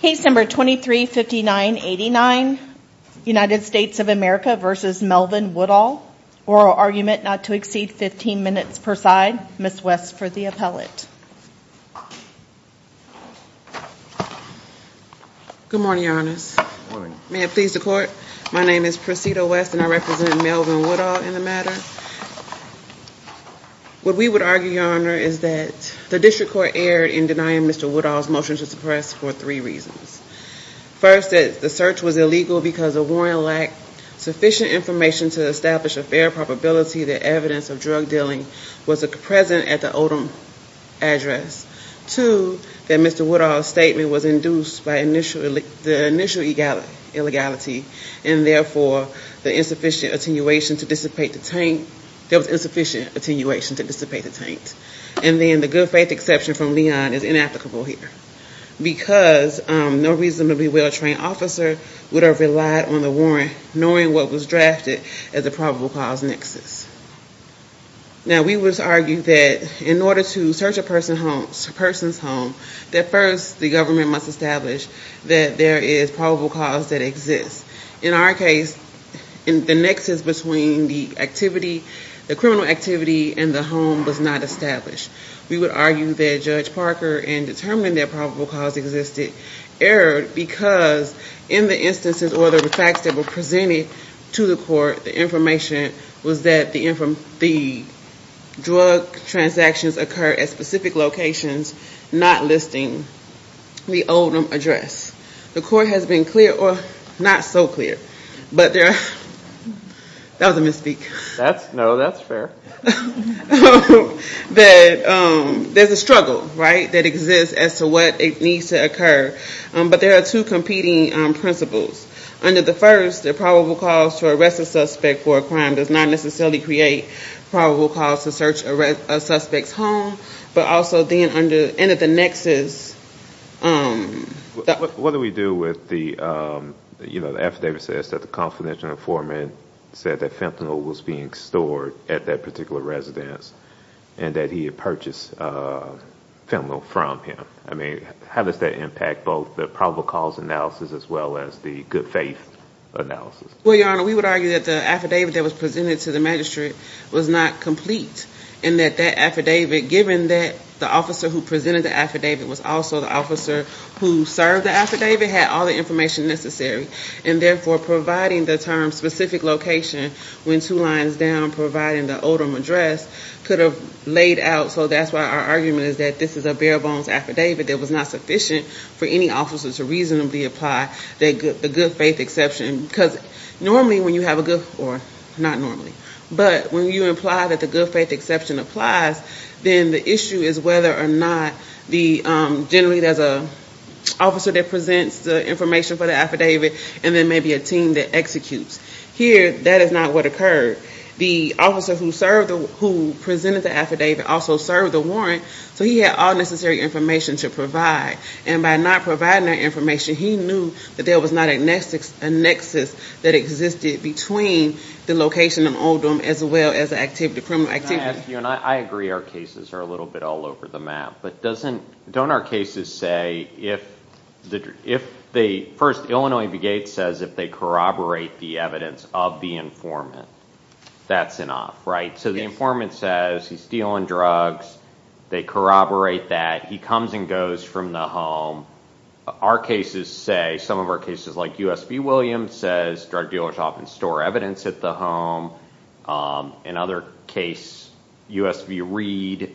Case number 235989, United States of America v. Melvin Woodall, oral argument not to exceed 15 minutes per side. Ms. West for the appellate. Good morning, Your Honors. May it please the Court, my name is Priscilla West and I represent Melvin Woodall in the matter. What we would argue, Your Honor, is that the District Court erred in denying Mr. Woodall's motion to suppress for three reasons. First, that the search was illegal because of warrant lack, sufficient information to establish a fair probability that evidence of drug dealing was present at the Odom address. Two, that Mr. Woodall's statement was induced by the initial illegality and therefore there was insufficient attenuation to dissipate the taint. And then the good faith exception from Leon is inapplicable here because no reasonably well-trained officer would have relied on the warrant knowing what was drafted as a probable cause nexus. Now we would argue that in order to search a person's home, that first the government must establish that there is probable cause that exists. In our case, the nexus between the criminal activity and the home was not established. We would argue that Judge Parker, in determining that probable cause existed, erred because in the instances or the facts that were presented to the Court, the information was that the drug transactions occurred at specific locations, not listing the Odom address. The Court has been clear, or not so clear, but there's a struggle that exists as to what needs to occur. But there are two competing principles. Under the first, the probable cause to arrest a suspect for a crime does not necessarily create probable cause to search a suspect's home. What do we do with the affidavit that says the confidential informant said fentanyl was being stored at that particular residence and that he had purchased fentanyl from him? How does that impact both the probable cause analysis as well as the good faith analysis? Well, Your Honor, we would argue that the affidavit that was presented to the magistrate was not complete, and that that affidavit, given that the officer who presented the affidavit was also the officer who served the affidavit, had all the information necessary. And therefore, providing the term specific location, when two lines down, providing the Odom address, could have laid out. So that's why our argument is that this is a bare bones affidavit that was not sufficient for any officer to reasonably apply the good faith exception. Normally when you have a good, or not normally, but when you imply that the good faith exception applies, then the issue is whether or not generally there's an officer that presents the information for the affidavit and then maybe a team that executes. Here, that is not what occurred. The officer who presented the affidavit also served the warrant, so he had all necessary information to provide. And by not providing that information, he knew that there was not a nexus that existed between the location of Odom as well as the criminal activity. Your Honor, I agree our cases are a little bit all over the map. But don't our cases say, first, Illinois Begate says if they corroborate the evidence of the informant, that's enough, right? So the informant says he's dealing drugs, they corroborate that, he comes and goes from the home. Our cases say, some of our cases like U.S.B. Williams says drug dealers often store evidence at the home. In other cases, U.S.B. Reed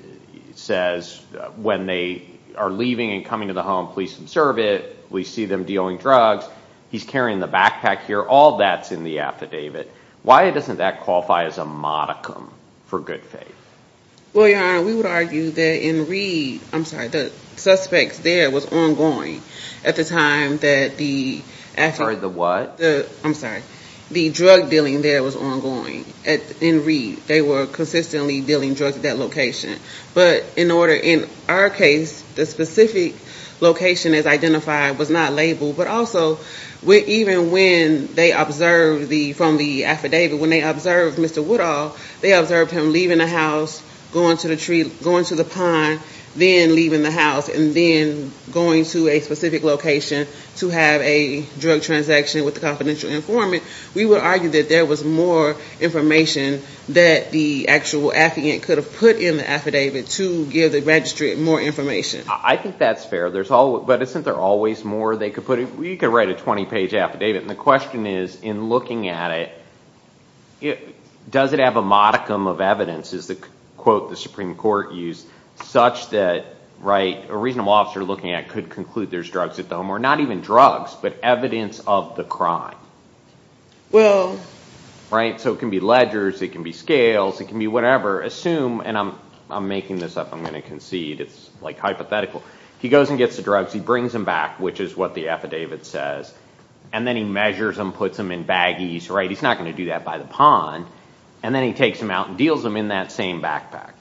says when they are leaving and coming to the home, please observe it. We see them dealing drugs. He's carrying the backpack here. All that's in the affidavit. Why doesn't that qualify as a modicum for good faith? Well, Your Honor, we would argue that in Reed, the suspects there was ongoing at the time that the drug dealing there was ongoing. In Reed, they were consistently dealing drugs at that location. But in our case, the specific location as identified was not labeled. But also, even when they observed from the affidavit, when they observed Mr. Woodall, they observed him leaving the house, going to the tree, going to the pond, then leaving the house, and then going to a specific location to have a drug transaction with the confidential informant. We would argue that there was more information that the actual affidavit could have put in the affidavit to give the registry more information. I think that's fair. But isn't there always more they could put in? You could write a 20-page affidavit, and the question is, in looking at it, does it have a modicum of evidence, is the quote the Supreme Court used, such that a reasonable officer looking at it could conclude there's drugs at the home, or not even drugs, but evidence of the crime? Well— Right? So it can be ledgers. It can be scales. It can be whatever. Assume—and I'm making this up. I'm going to concede it's hypothetical. He goes and gets the drugs, he brings them back, which is what the affidavit says, and then he measures them, puts them in baggies, right? He's not going to do that by the pond. And then he takes them out and deals them in that same backpack.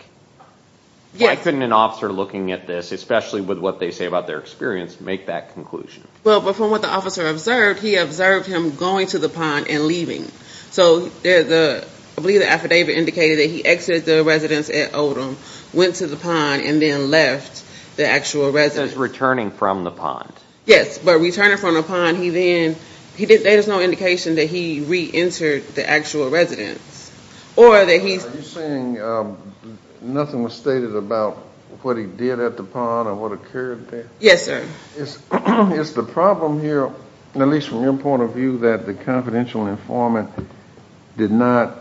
Why couldn't an officer looking at this, especially with what they say about their experience, make that conclusion? Well, from what the officer observed, he observed him going to the pond and leaving. So I believe the affidavit indicated that he exited the residence at Odom, went to the pond, and then left the actual residence. It says returning from the pond. Yes, but returning from the pond, he then—there's no indication that he reentered the actual residence. Or that he— Are you saying nothing was stated about what he did at the pond or what occurred there? Yes, sir. Is the problem here, at least from your point of view, that the confidential informant did not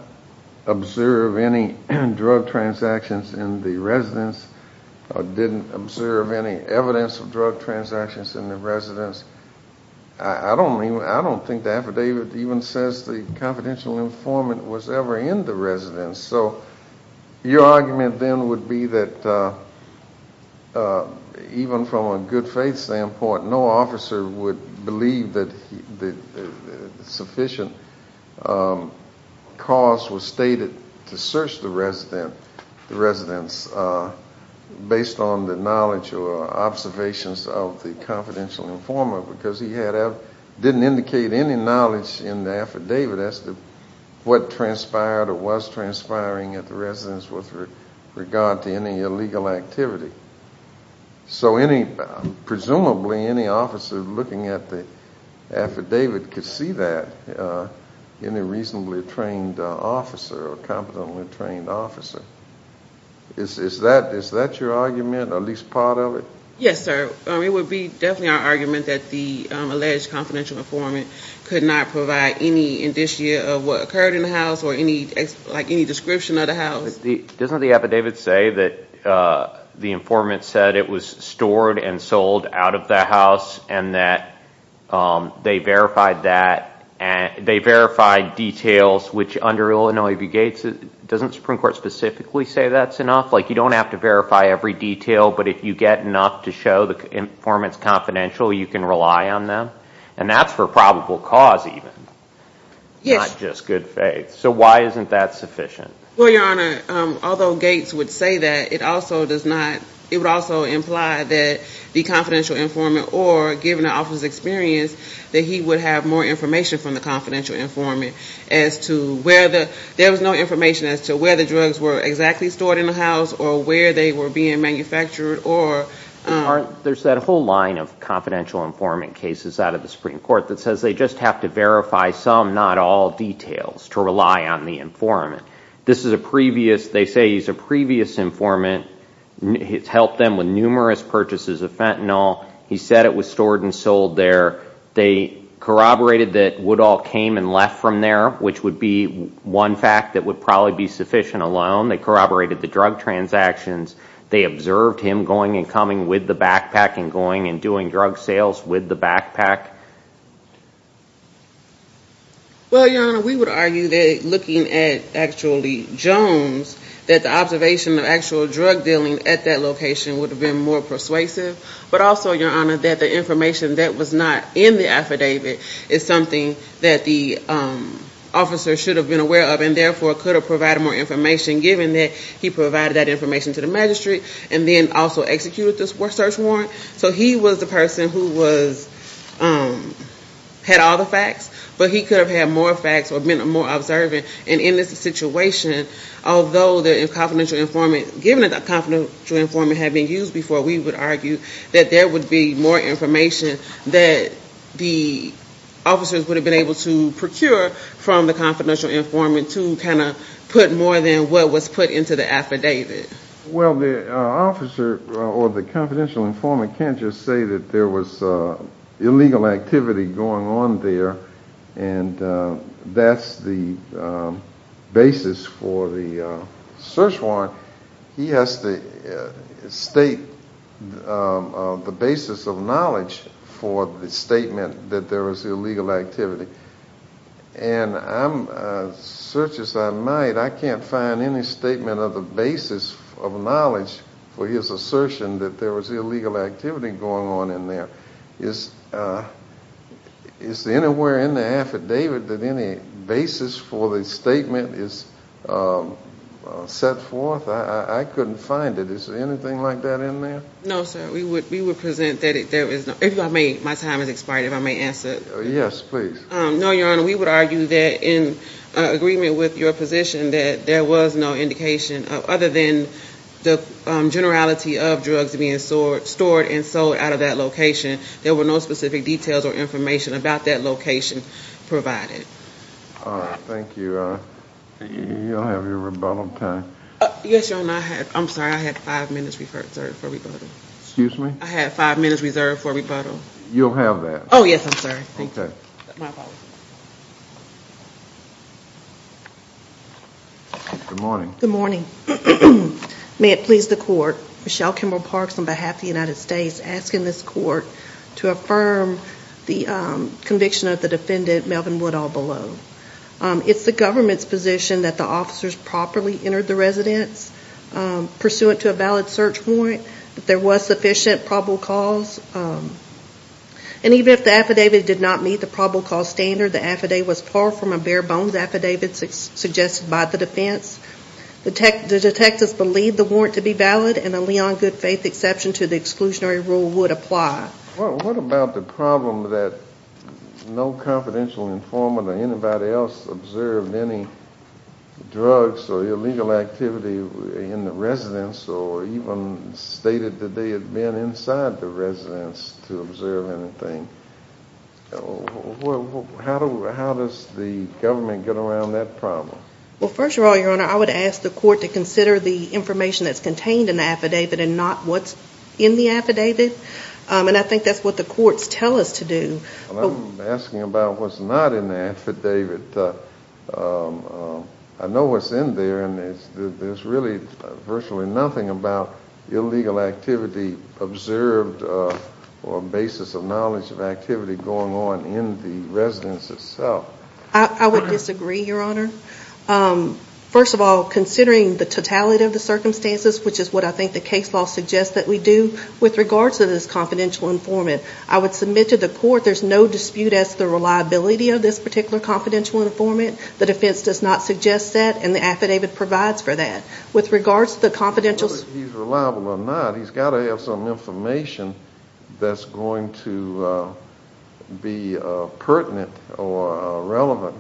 observe any drug transactions in the residence or didn't observe any evidence of drug transactions in the residence? I don't think the affidavit even says the confidential informant was ever in the residence. So your argument then would be that even from a good faith standpoint, no officer would believe that sufficient cause was stated to search the residence based on the knowledge or observations of the confidential informant because he didn't indicate any knowledge in the affidavit as to what transpired or was transpiring at the residence with regard to any illegal activity. So presumably any officer looking at the affidavit could see that, any reasonably trained officer or competently trained officer. Is that your argument, or at least part of it? Yes, sir. It would be definitely our argument that the alleged confidential informant could not provide any indicia of what occurred in the house or any description of the house. Doesn't the affidavit say that the informant said it was stored and sold out of the house and that they verified that, they verified details, which under Illinois v. Gates, doesn't the Supreme Court specifically say that's enough? Like you don't have to verify every detail, but if you get enough to show the informant's confidential, you can rely on them? And that's for probable cause even, not just good faith. So why isn't that sufficient? Well, Your Honor, although Gates would say that, it would also imply that the confidential informant or given the officer's experience, that he would have more information from the confidential informant as to where the, there was no information as to where the drugs were exactly stored in the house or where they were being manufactured or... There's that whole line of confidential informant cases out of the Supreme Court that says they just have to verify some, not all, details to rely on the informant. This is a previous, they say he's a previous informant. It's helped them with numerous purchases of fentanyl. He said it was stored and sold there. They corroborated that Woodall came and left from there, which would be one fact that would probably be sufficient alone. They corroborated the drug transactions. They observed him going and coming with the backpack and going and doing drug sales with the backpack. Well, Your Honor, we would argue that looking at actually Jones, that the observation of actual drug dealing at that location would have been more persuasive. But also, Your Honor, that the information that was not in the affidavit is something that the officer should have been aware of and therefore could have provided more information given that he provided that information to the magistrate and then also executed the search warrant. So he was the person who had all the facts, but he could have had more facts or been more observant. And in this situation, although the confidential informant, having used before, we would argue that there would be more information that the officers would have been able to procure from the confidential informant to kind of put more than what was put into the affidavit. Well, the officer or the confidential informant can't just say that there was illegal activity going on there and that's the basis for the search warrant. He has to state the basis of knowledge for the statement that there was illegal activity. And I'm, search as I might, I can't find any statement of the basis of knowledge for his assertion that there was illegal activity going on in there. Is there anywhere in the affidavit that any basis for the statement is set forth? I couldn't find it. Is there anything like that in there? No, sir. We would present that there is not. If you don't mind, my time has expired, if I may answer. Yes, please. No, Your Honor, we would argue that in agreement with your position that there was no indication other than the generality of drugs being stored and sold out of that location. There were no specific details or information about that location provided. All right. Thank you. You'll have your rebuttal time. Yes, Your Honor. I'm sorry, I have five minutes reserved for rebuttal. Excuse me? I have five minutes reserved for rebuttal. You'll have that. Oh, yes, I'm sorry. Thank you. Okay. Good morning. Good morning. May it please the Court, Michelle Kimball Parks on behalf of the United States asking this Court to affirm the conviction of the defendant, Melvin Woodall, below. It's the government's position that the officers properly entered the residence pursuant to a valid search warrant, that there was sufficient probable cause, and even if the affidavit did not meet the probable cause standard, the affidavit was far from a bare bones affidavit suggested by the defense. The detectives believed the warrant to be valid, and a Leon good faith exception to the exclusionary rule would apply. Well, what about the problem that no confidential informant or anybody else observed any drugs or illegal activity in the residence or even stated that they had been inside the residence to observe anything? How does the government get around that problem? Well, first of all, Your Honor, I would ask the Court to consider the information that's contained in the affidavit and not what's in the affidavit, and I think that's what the courts tell us to do. I'm asking about what's not in the affidavit. I know what's in there, and there's really virtually nothing about illegal activity observed or a basis of knowledge of activity going on in the residence itself. I would disagree, Your Honor. First of all, considering the totality of the circumstances, which is what I think the case law suggests that we do, with regards to this confidential informant, I would submit to the Court there's no dispute as to the reliability of this particular confidential informant. The defense does not suggest that, and the affidavit provides for that. With regards to the confidential informant. Whether he's reliable or not, he's got to have some information that's going to be pertinent or relevant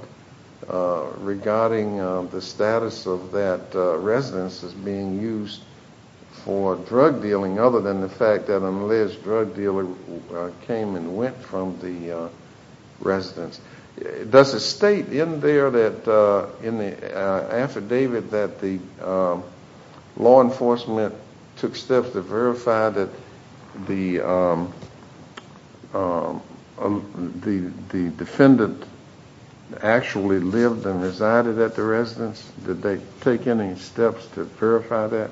regarding the status of that residence as being used for drug dealing, other than the fact that an alleged drug dealer came and went from the residence. Does it state in there, in the affidavit, that the law enforcement took steps to verify that the defendant actually lived and resided at the residence? Did they take any steps to verify that?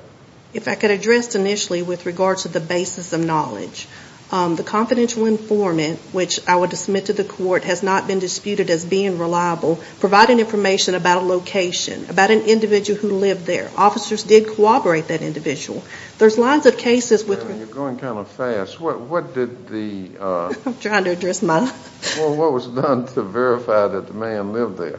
If I could address initially with regards to the basis of knowledge. The confidential informant, which I would submit to the Court, has not been disputed as being reliable. providing information about a location, about an individual who lived there. Officers did corroborate that individual. There's lines of cases with... You're going kind of fast. What did the... I'm trying to address my... What was done to verify that the man lived there?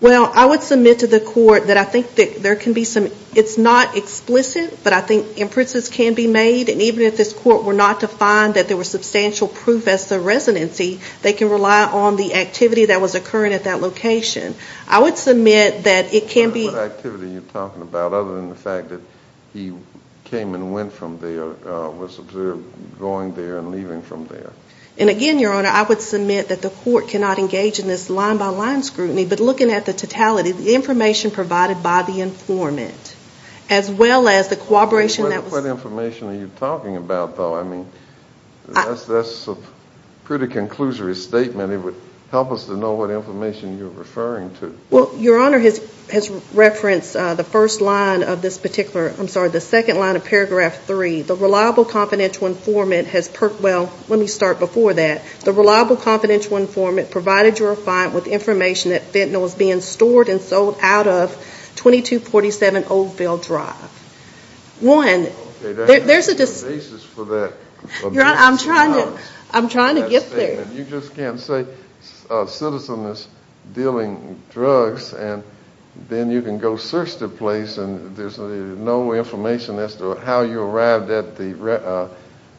Well, I would submit to the Court that I think there can be some... It's not explicit, but I think inferences can be made, and even if this Court were not to find that there was substantial proof as to residency, they can rely on the activity that was occurring at that location. I would submit that it can be... What activity are you talking about, other than the fact that he came and went from there, was observed going there and leaving from there? And again, Your Honor, I would submit that the Court cannot engage in this line-by-line scrutiny, but looking at the totality, the information provided by the informant, as well as the corroboration that was... What information are you talking about, though? I mean, that's a pretty conclusory statement. It would help us to know what information you're referring to. Well, Your Honor has referenced the first line of this particular... I'm sorry, the second line of paragraph 3. The reliable confidential informant has... Well, let me start before that. The reliable confidential informant provided your client with information that fentanyl was being stored and sold out of 2247 Oldville Drive. One, there's a... Your Honor, I'm trying to get there. You just can't say a citizen is dealing drugs and then you can go search the place and there's no information as to how you arrived at the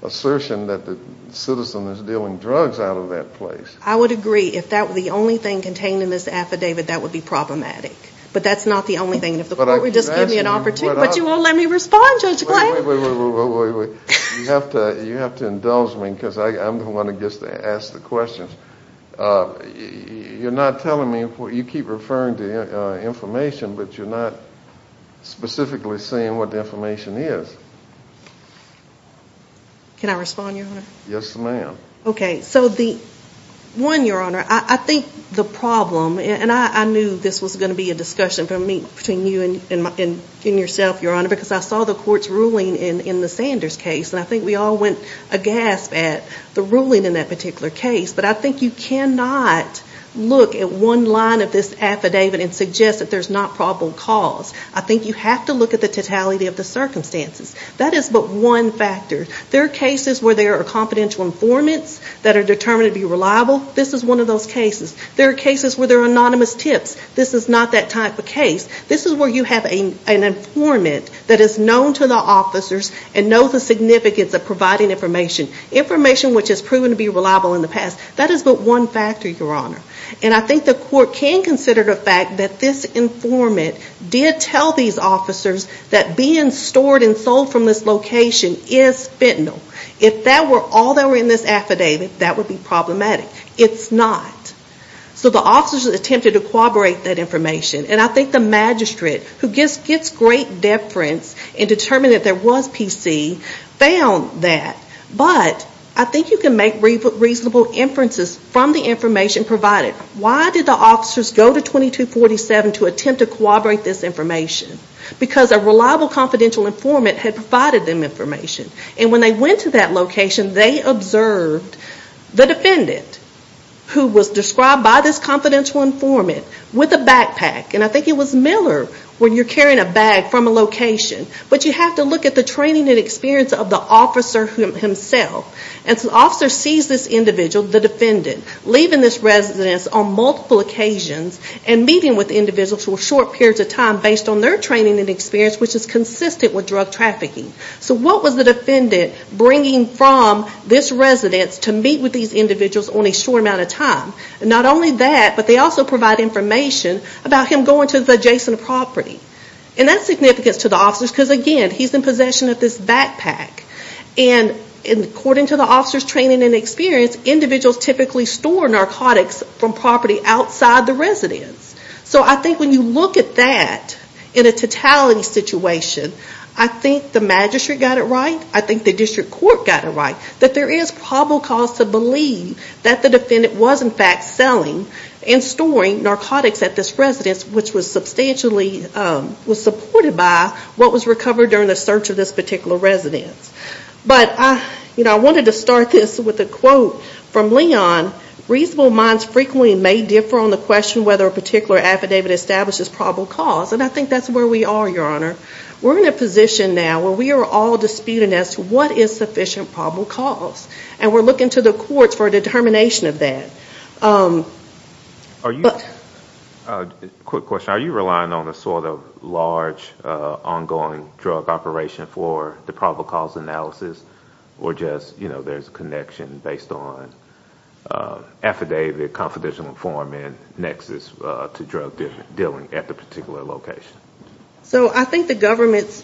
assertion that the citizen is dealing drugs out of that place. I would agree. If that were the only thing contained in this affidavit, that would be problematic. But that's not the only thing. If the court would just give me an opportunity... But you won't let me respond, Judge Clay. Wait, wait, wait. You have to indulge me because I'm the one who gets to ask the questions. You're not telling me... You keep referring to information, but you're not specifically saying what the information is. Can I respond, Your Honor? Yes, ma'am. Okay. So the... One, Your Honor, I think the problem, and I knew this was going to be a discussion between you and yourself, Your Honor, because I saw the court's ruling in the Sanders case, and I think we all went aghast at the ruling in that particular case. But I think you cannot look at one line of this affidavit and suggest that there's not probable cause. I think you have to look at the totality of the circumstances. That is but one factor. There are cases where there are confidential informants that are determined to be reliable. This is one of those cases. There are cases where there are anonymous tips. This is not that type of case. This is where you have an informant that is known to the officers and knows the significance of providing information, information which has proven to be reliable in the past. That is but one factor, Your Honor. And I think the court can consider the fact that this informant did tell these officers that being stored and sold from this location is fentanyl. If that were all that were in this affidavit, that would be problematic. It's not. So the officers attempted to corroborate that information. And I think the magistrate, who gets great deference in determining that there was PC, found that. But I think you can make reasonable inferences from the information provided. Why did the officers go to 2247 to attempt to corroborate this information? Because a reliable confidential informant had provided them information. And when they went to that location, they observed the defendant, who was described by this confidential informant, with a backpack. And I think it was Miller when you're carrying a bag from a location. But you have to look at the training and experience of the officer himself. And so the officer sees this individual, the defendant, leaving this residence on multiple occasions and meeting with the individual for short periods of time based on their training and experience, which is consistent with drug trafficking. So what was the defendant bringing from this residence to meet with these individuals on a short amount of time? And not only that, but they also provide information about him going to the adjacent property. And that's significant to the officers, because again, he's in possession of this backpack. And according to the officer's training and experience, individuals typically store narcotics from property outside the residence. So I think when you look at that in a totality situation, I think the magistrate got it right. I think the district court got it right. That there is probable cause to believe that the defendant was in fact selling and storing narcotics at this residence, which was substantially supported by what was recovered during the search of this particular residence. But I wanted to start this with a quote from Leon. Reasonable minds frequently may differ on the question whether a particular affidavit establishes probable cause. And I think that's where we are, Your Honor. We're in a position now where we are all disputing as to what is sufficient probable cause. And we're looking to the courts for a determination of that. Quick question. Are you relying on a sort of large, ongoing drug operation for the probable cause analysis? Or just there's a connection based on affidavit, confidential form, and nexus to drug dealing at the particular location? So I think the government's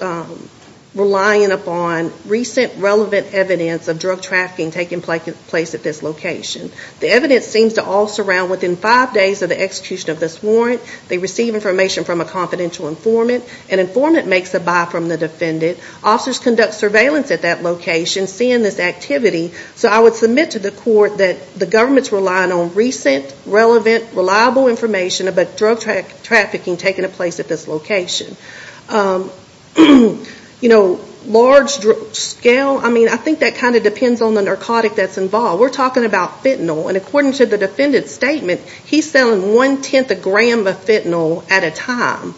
relying upon recent relevant evidence of drug trafficking taking place at this location. The evidence seems to all surround, within five days of the execution of this warrant, they receive information from a confidential informant. An informant makes a buy from the defendant. Officers conduct surveillance at that location, seeing this activity. So I would submit to the court that the government's relying on recent, relevant, reliable information about drug trafficking taking place at this location. You know, large scale, I mean, I think that kind of depends on the narcotic that's involved. We're talking about fentanyl. And according to the defendant's statement, he's selling one-tenth a gram of fentanyl at a time.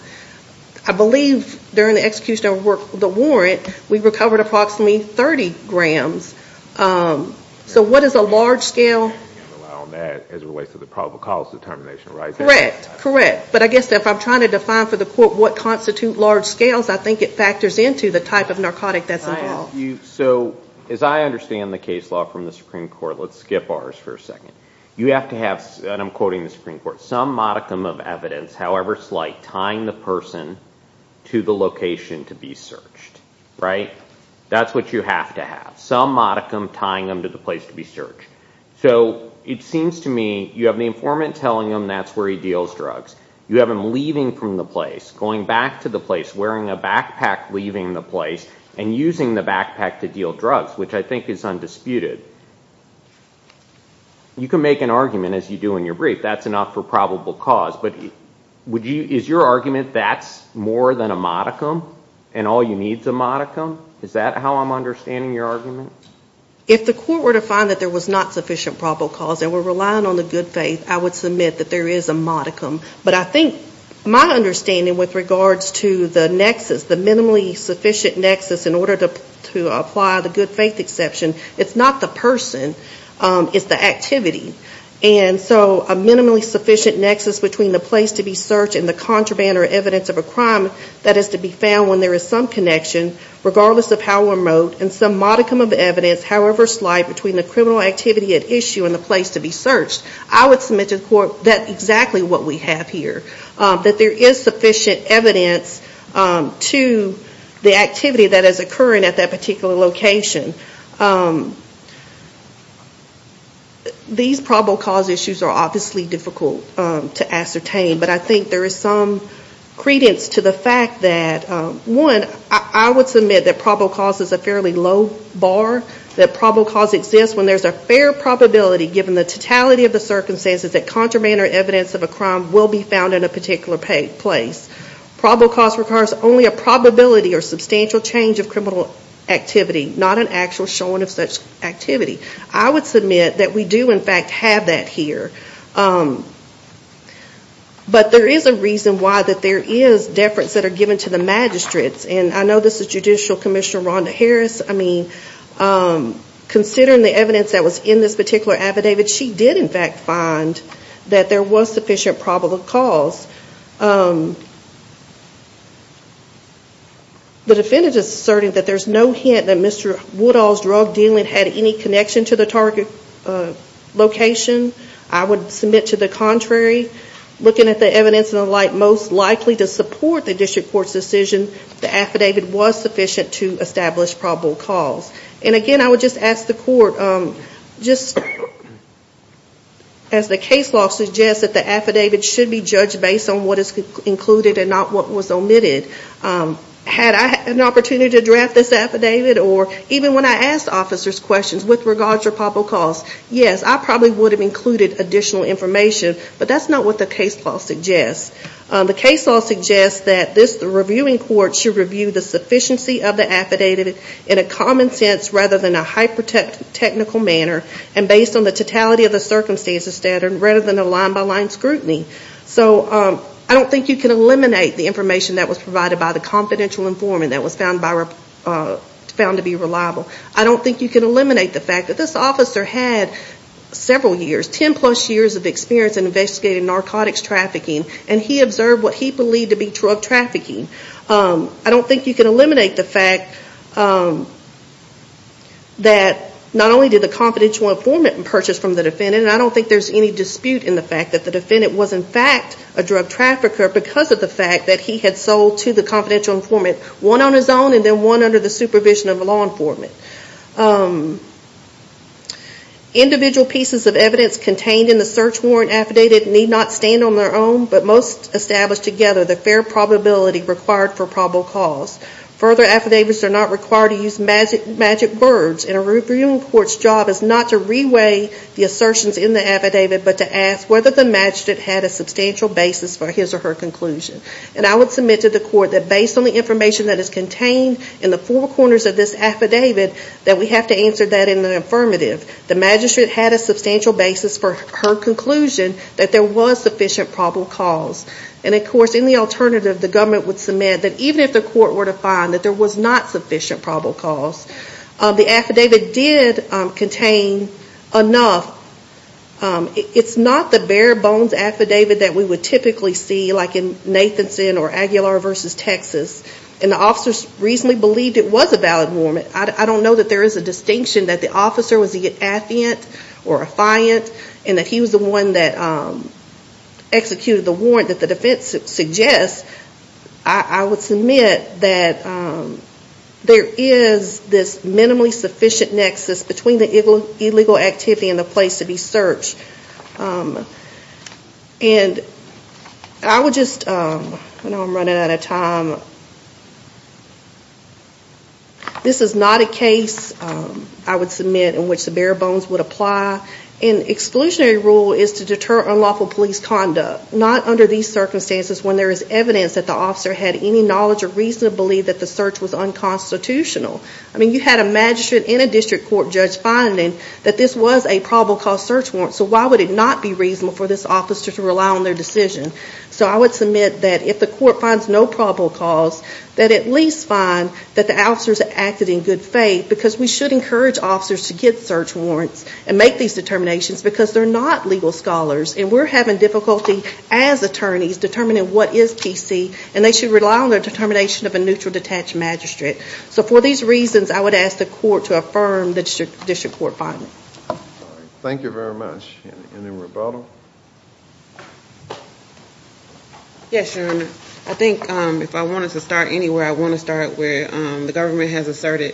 I believe during the execution of the warrant, we recovered approximately 30 grams. So what is a large scale? As it relates to the probable cause determination, right? Correct, correct. But I guess if I'm trying to define for the court what constitutes large scales, I think it factors into the type of narcotic that's involved. So as I understand the case law from the Supreme Court, let's skip ours for a second. You have to have, and I'm quoting the Supreme Court, some modicum of evidence, however slight, tying the person to the location to be searched. Right? That's what you have to have. Some modicum tying them to the place to be searched. So it seems to me you have the informant telling him that's where he deals drugs. You have him leaving from the place, going back to the place, wearing a backpack, leaving the place, and using the backpack to deal drugs, which I think is undisputed. You can make an argument, as you do in your brief, that's enough for probable cause, but is your argument that's more than a modicum and all you need is a modicum? Is that how I'm understanding your argument? If the court were to find that there was not sufficient probable cause and were relying on the good faith, I would submit that there is a modicum. But I think my understanding with regards to the nexus, the minimally sufficient nexus, in order to apply the good faith exception, it's not the person, it's the activity. And so a minimally sufficient nexus between the place to be searched and the contraband or evidence of a crime that is to be found when there is some connection, regardless of how remote, and some modicum of evidence, however slight, between the criminal activity at issue and the place to be searched, I would submit to the court that's exactly what we have here, that there is sufficient evidence to the activity that is occurring at that particular location. These probable cause issues are obviously difficult to ascertain, but I think there is some credence to the fact that, one, I would submit that probable cause is a fairly low bar, that probable cause exists when there is a fair probability, given the totality of the circumstances, that contraband or evidence of a crime will be found in a particular place. Probable cause requires only a probability or substantial change of criminal activity, not an actual showing of such activity. I would submit that we do, in fact, have that here. But there is a reason why there is deference that are given to the magistrates. I know this is Judicial Commissioner Rhonda Harris. Considering the evidence that was in this particular affidavit, she did, in fact, find that there was sufficient probable cause. The defendant is asserting that there is no hint that Mr. Woodall's drug dealing had any connection to the target location. I would submit to the contrary. Looking at the evidence and the like, most likely to support the district court's decision, the affidavit was sufficient to establish probable cause. Again, I would just ask the court, as the case law suggests, that the affidavit should be judged based on what is included and not what was omitted. Had I had an opportunity to draft this affidavit, or even when I asked officers questions with regards to probable cause, yes, I probably would have included additional information, but that's not what the case law suggests. The case law suggests that the reviewing court should review the sufficiency of the affidavit in a common sense rather than a hyper-technical manner, and based on the totality of the circumstances standard rather than a line-by-line scrutiny. I don't think you can eliminate the information that was provided by the confidential informant that was found to be reliable. I don't think you can eliminate the fact that this officer had several years, 10 plus years of experience in investigating narcotics trafficking, and he observed what he believed to be drug trafficking. I don't think you can eliminate the fact that not only did the confidential informant purchase from the defendant, and I don't think there's any dispute in the fact that the defendant was in fact a drug trafficker because of the fact that he had sold to the confidential informant one on his own and then one under the supervision of a law informant. Individual pieces of evidence contained in the search warrant affidavit need not stand on their own, but must establish together the fair probability required for probable cause. Further affidavits are not required to use magic words, and a reviewing court's job is not to re-weigh the assertions in the affidavit, but to ask whether the magistrate had a substantial basis for his or her conclusion. And I would submit to the court that based on the information that is contained in the four corners of this affidavit, that we have to answer that in the affirmative. The magistrate had a substantial basis for her conclusion that there was sufficient probable cause. And of course in the alternative, the government would submit that even if the court were to find that there was not sufficient probable cause, the affidavit did contain enough. It's not the bare bones affidavit that we would typically see like in Nathanson or Aguilar v. Texas, and the officers reasonably believed it was a valid warrant. I don't know that there is a distinction that the officer was an affiant or a fiant, and that he was the one that executed the warrant that the defense suggests. I would submit that there is this minimally sufficient nexus between the illegal activity and the place to be searched. And I would just, I know I'm running out of time. This is not a case I would submit in which the bare bones would apply. An exclusionary rule is to deter unlawful police conduct, not under these circumstances when there is evidence that the officer had any knowledge or reason to believe that the search was unconstitutional. I mean you had a magistrate and a district court judge finding that this was a probable cause search warrant, so why would it not be reasonable for this officer to rely on their decision? So I would submit that if the court finds no probable cause, that at least find that the officers acted in good faith, because we should encourage officers to get search warrants and make these determinations because they're not legal scholars, and we're having difficulty as attorneys determining what is PC, and they should rely on their determination of a neutral detached magistrate. So for these reasons, I would ask the court to affirm the district court finding. Thank you very much. Anyone at the bottom? Yes, Your Honor. I think if I wanted to start anywhere, I want to start where the government has asserted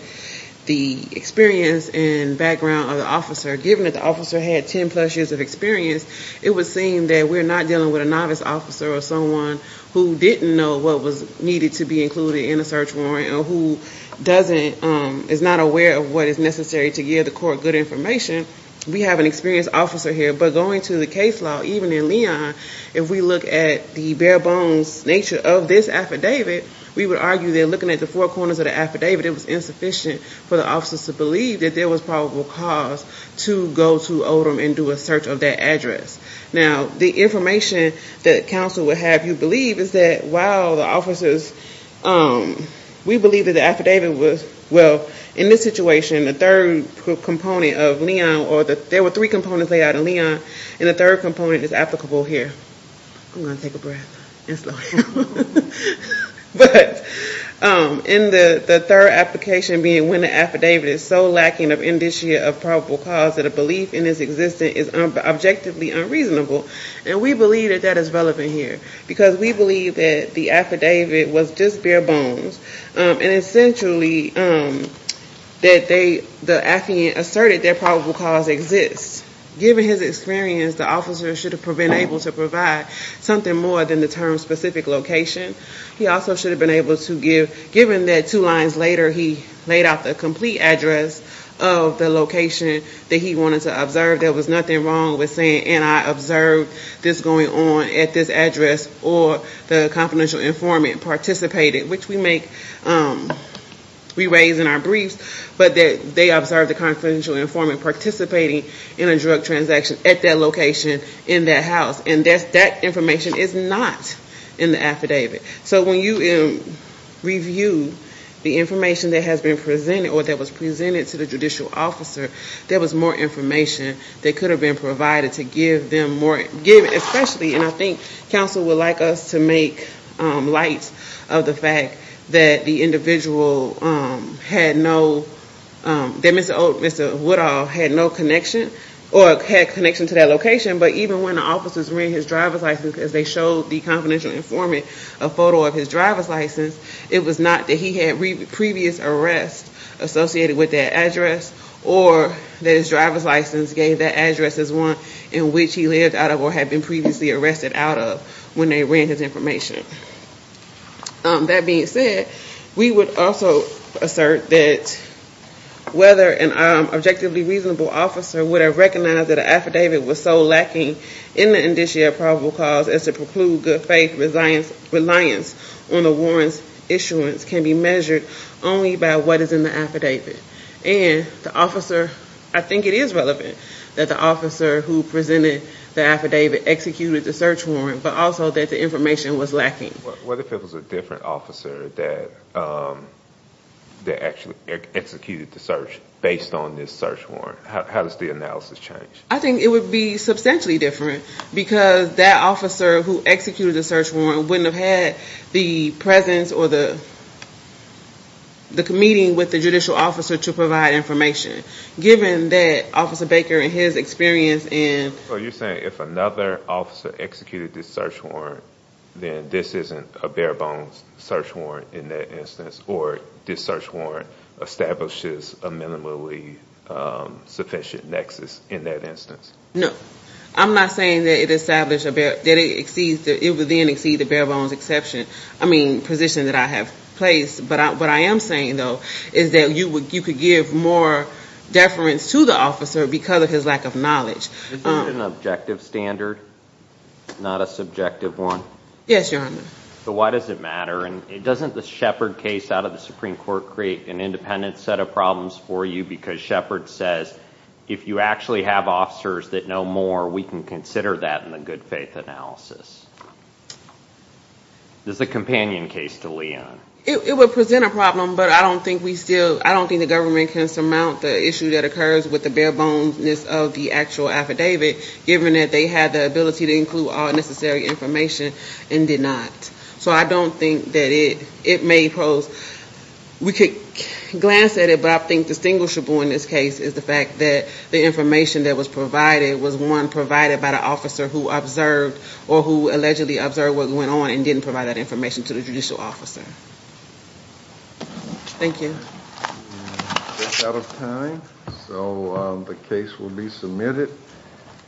the experience and background of the officer. Given that the officer had 10 plus years of experience, it would seem that we're not dealing with a novice officer or someone who didn't know what was needed to be included in a search warrant or who is not aware of what is necessary to give the court good information. We have an experienced officer here, but going to the case law, even in Leon, if we look at the bare bones nature of this affidavit, we would argue that looking at the four corners of the affidavit, it was insufficient for the officers to believe that there was probable cause to go to Odom and do a search of that address. Now, the information that counsel would have you believe is that, wow, the officers, we believe that the affidavit was, well, in this situation, the third component of Leon, or there were three components laid out in Leon, and the third component is applicable here. I'm going to take a breath and slow down. But the third application being when the affidavit is so lacking of indicia of probable cause that a belief in its existence is objectively unreasonable, and we believe that that is relevant here because we believe that the affidavit was just bare bones, and essentially the affiant asserted that probable cause exists. Given his experience, the officer should have been able to provide something more than the term specific location. He also should have been able to give, given that two lines later he laid out the complete address of the location that he wanted to observe, there was nothing wrong with saying, and I observed this going on at this address, or the confidential informant participated, which we make, we raise in our briefs, but that they observed the confidential informant participating in a drug transaction at that location in that house, and that information is not in the affidavit. So when you review the information that has been presented or that was presented to the judicial officer, there was more information that could have been provided to give them more, especially, and I think counsel would like us to make light of the fact that the individual had no, that Mr. Woodall had no connection or had connection to that location, but even when the officers read his driver's license as they showed the confidential informant a photo of his driver's license, it was not that he had previous arrests associated with that address or that his driver's license gave that address as one in which he lived out of or had been previously arrested out of when they ran his information. That being said, we would also assert that whether an objectively reasonable officer would have recognized that an affidavit was so lacking in the indicia of probable cause as to preclude good faith reliance on the warrant's issuance can be measured only by what is in the affidavit. And the officer, I think it is relevant that the officer who presented the affidavit executed the search warrant, but also that the information was lacking. What if it was a different officer that actually executed the search based on this search warrant? How does the analysis change? I think it would be substantially different because that officer who executed the search warrant wouldn't have had the presence or the meeting with the judicial officer to provide information. Given that Officer Baker and his experience in... So you're saying if another officer executed this search warrant, then this isn't a bare bones search warrant in that instance, or this search warrant establishes a minimally sufficient nexus in that instance? No. I'm not saying that it would then exceed the bare bones position that I have placed. But what I am saying, though, is that you could give more deference to the officer because of his lack of knowledge. Is this an objective standard, not a subjective one? Yes, Your Honor. So why does it matter? And doesn't the Shepard case out of the Supreme Court create an independent set of problems for you because Shepard says, if you actually have officers that know more, we can consider that in the good faith analysis? This is a companion case to Leon. It would present a problem, but I don't think we still... I don't think the government can surmount the issue that occurs with the bare bones-ness of the actual affidavit given that they had the ability to include all necessary information and did not. So I don't think that it may pose... We could glance at it, but I think distinguishable in this case is the fact that the information that was provided was one provided by the officer who observed or who allegedly observed what went on and didn't provide that information to the judicial officer. Thank you. That's out of time, so the case will be submitted.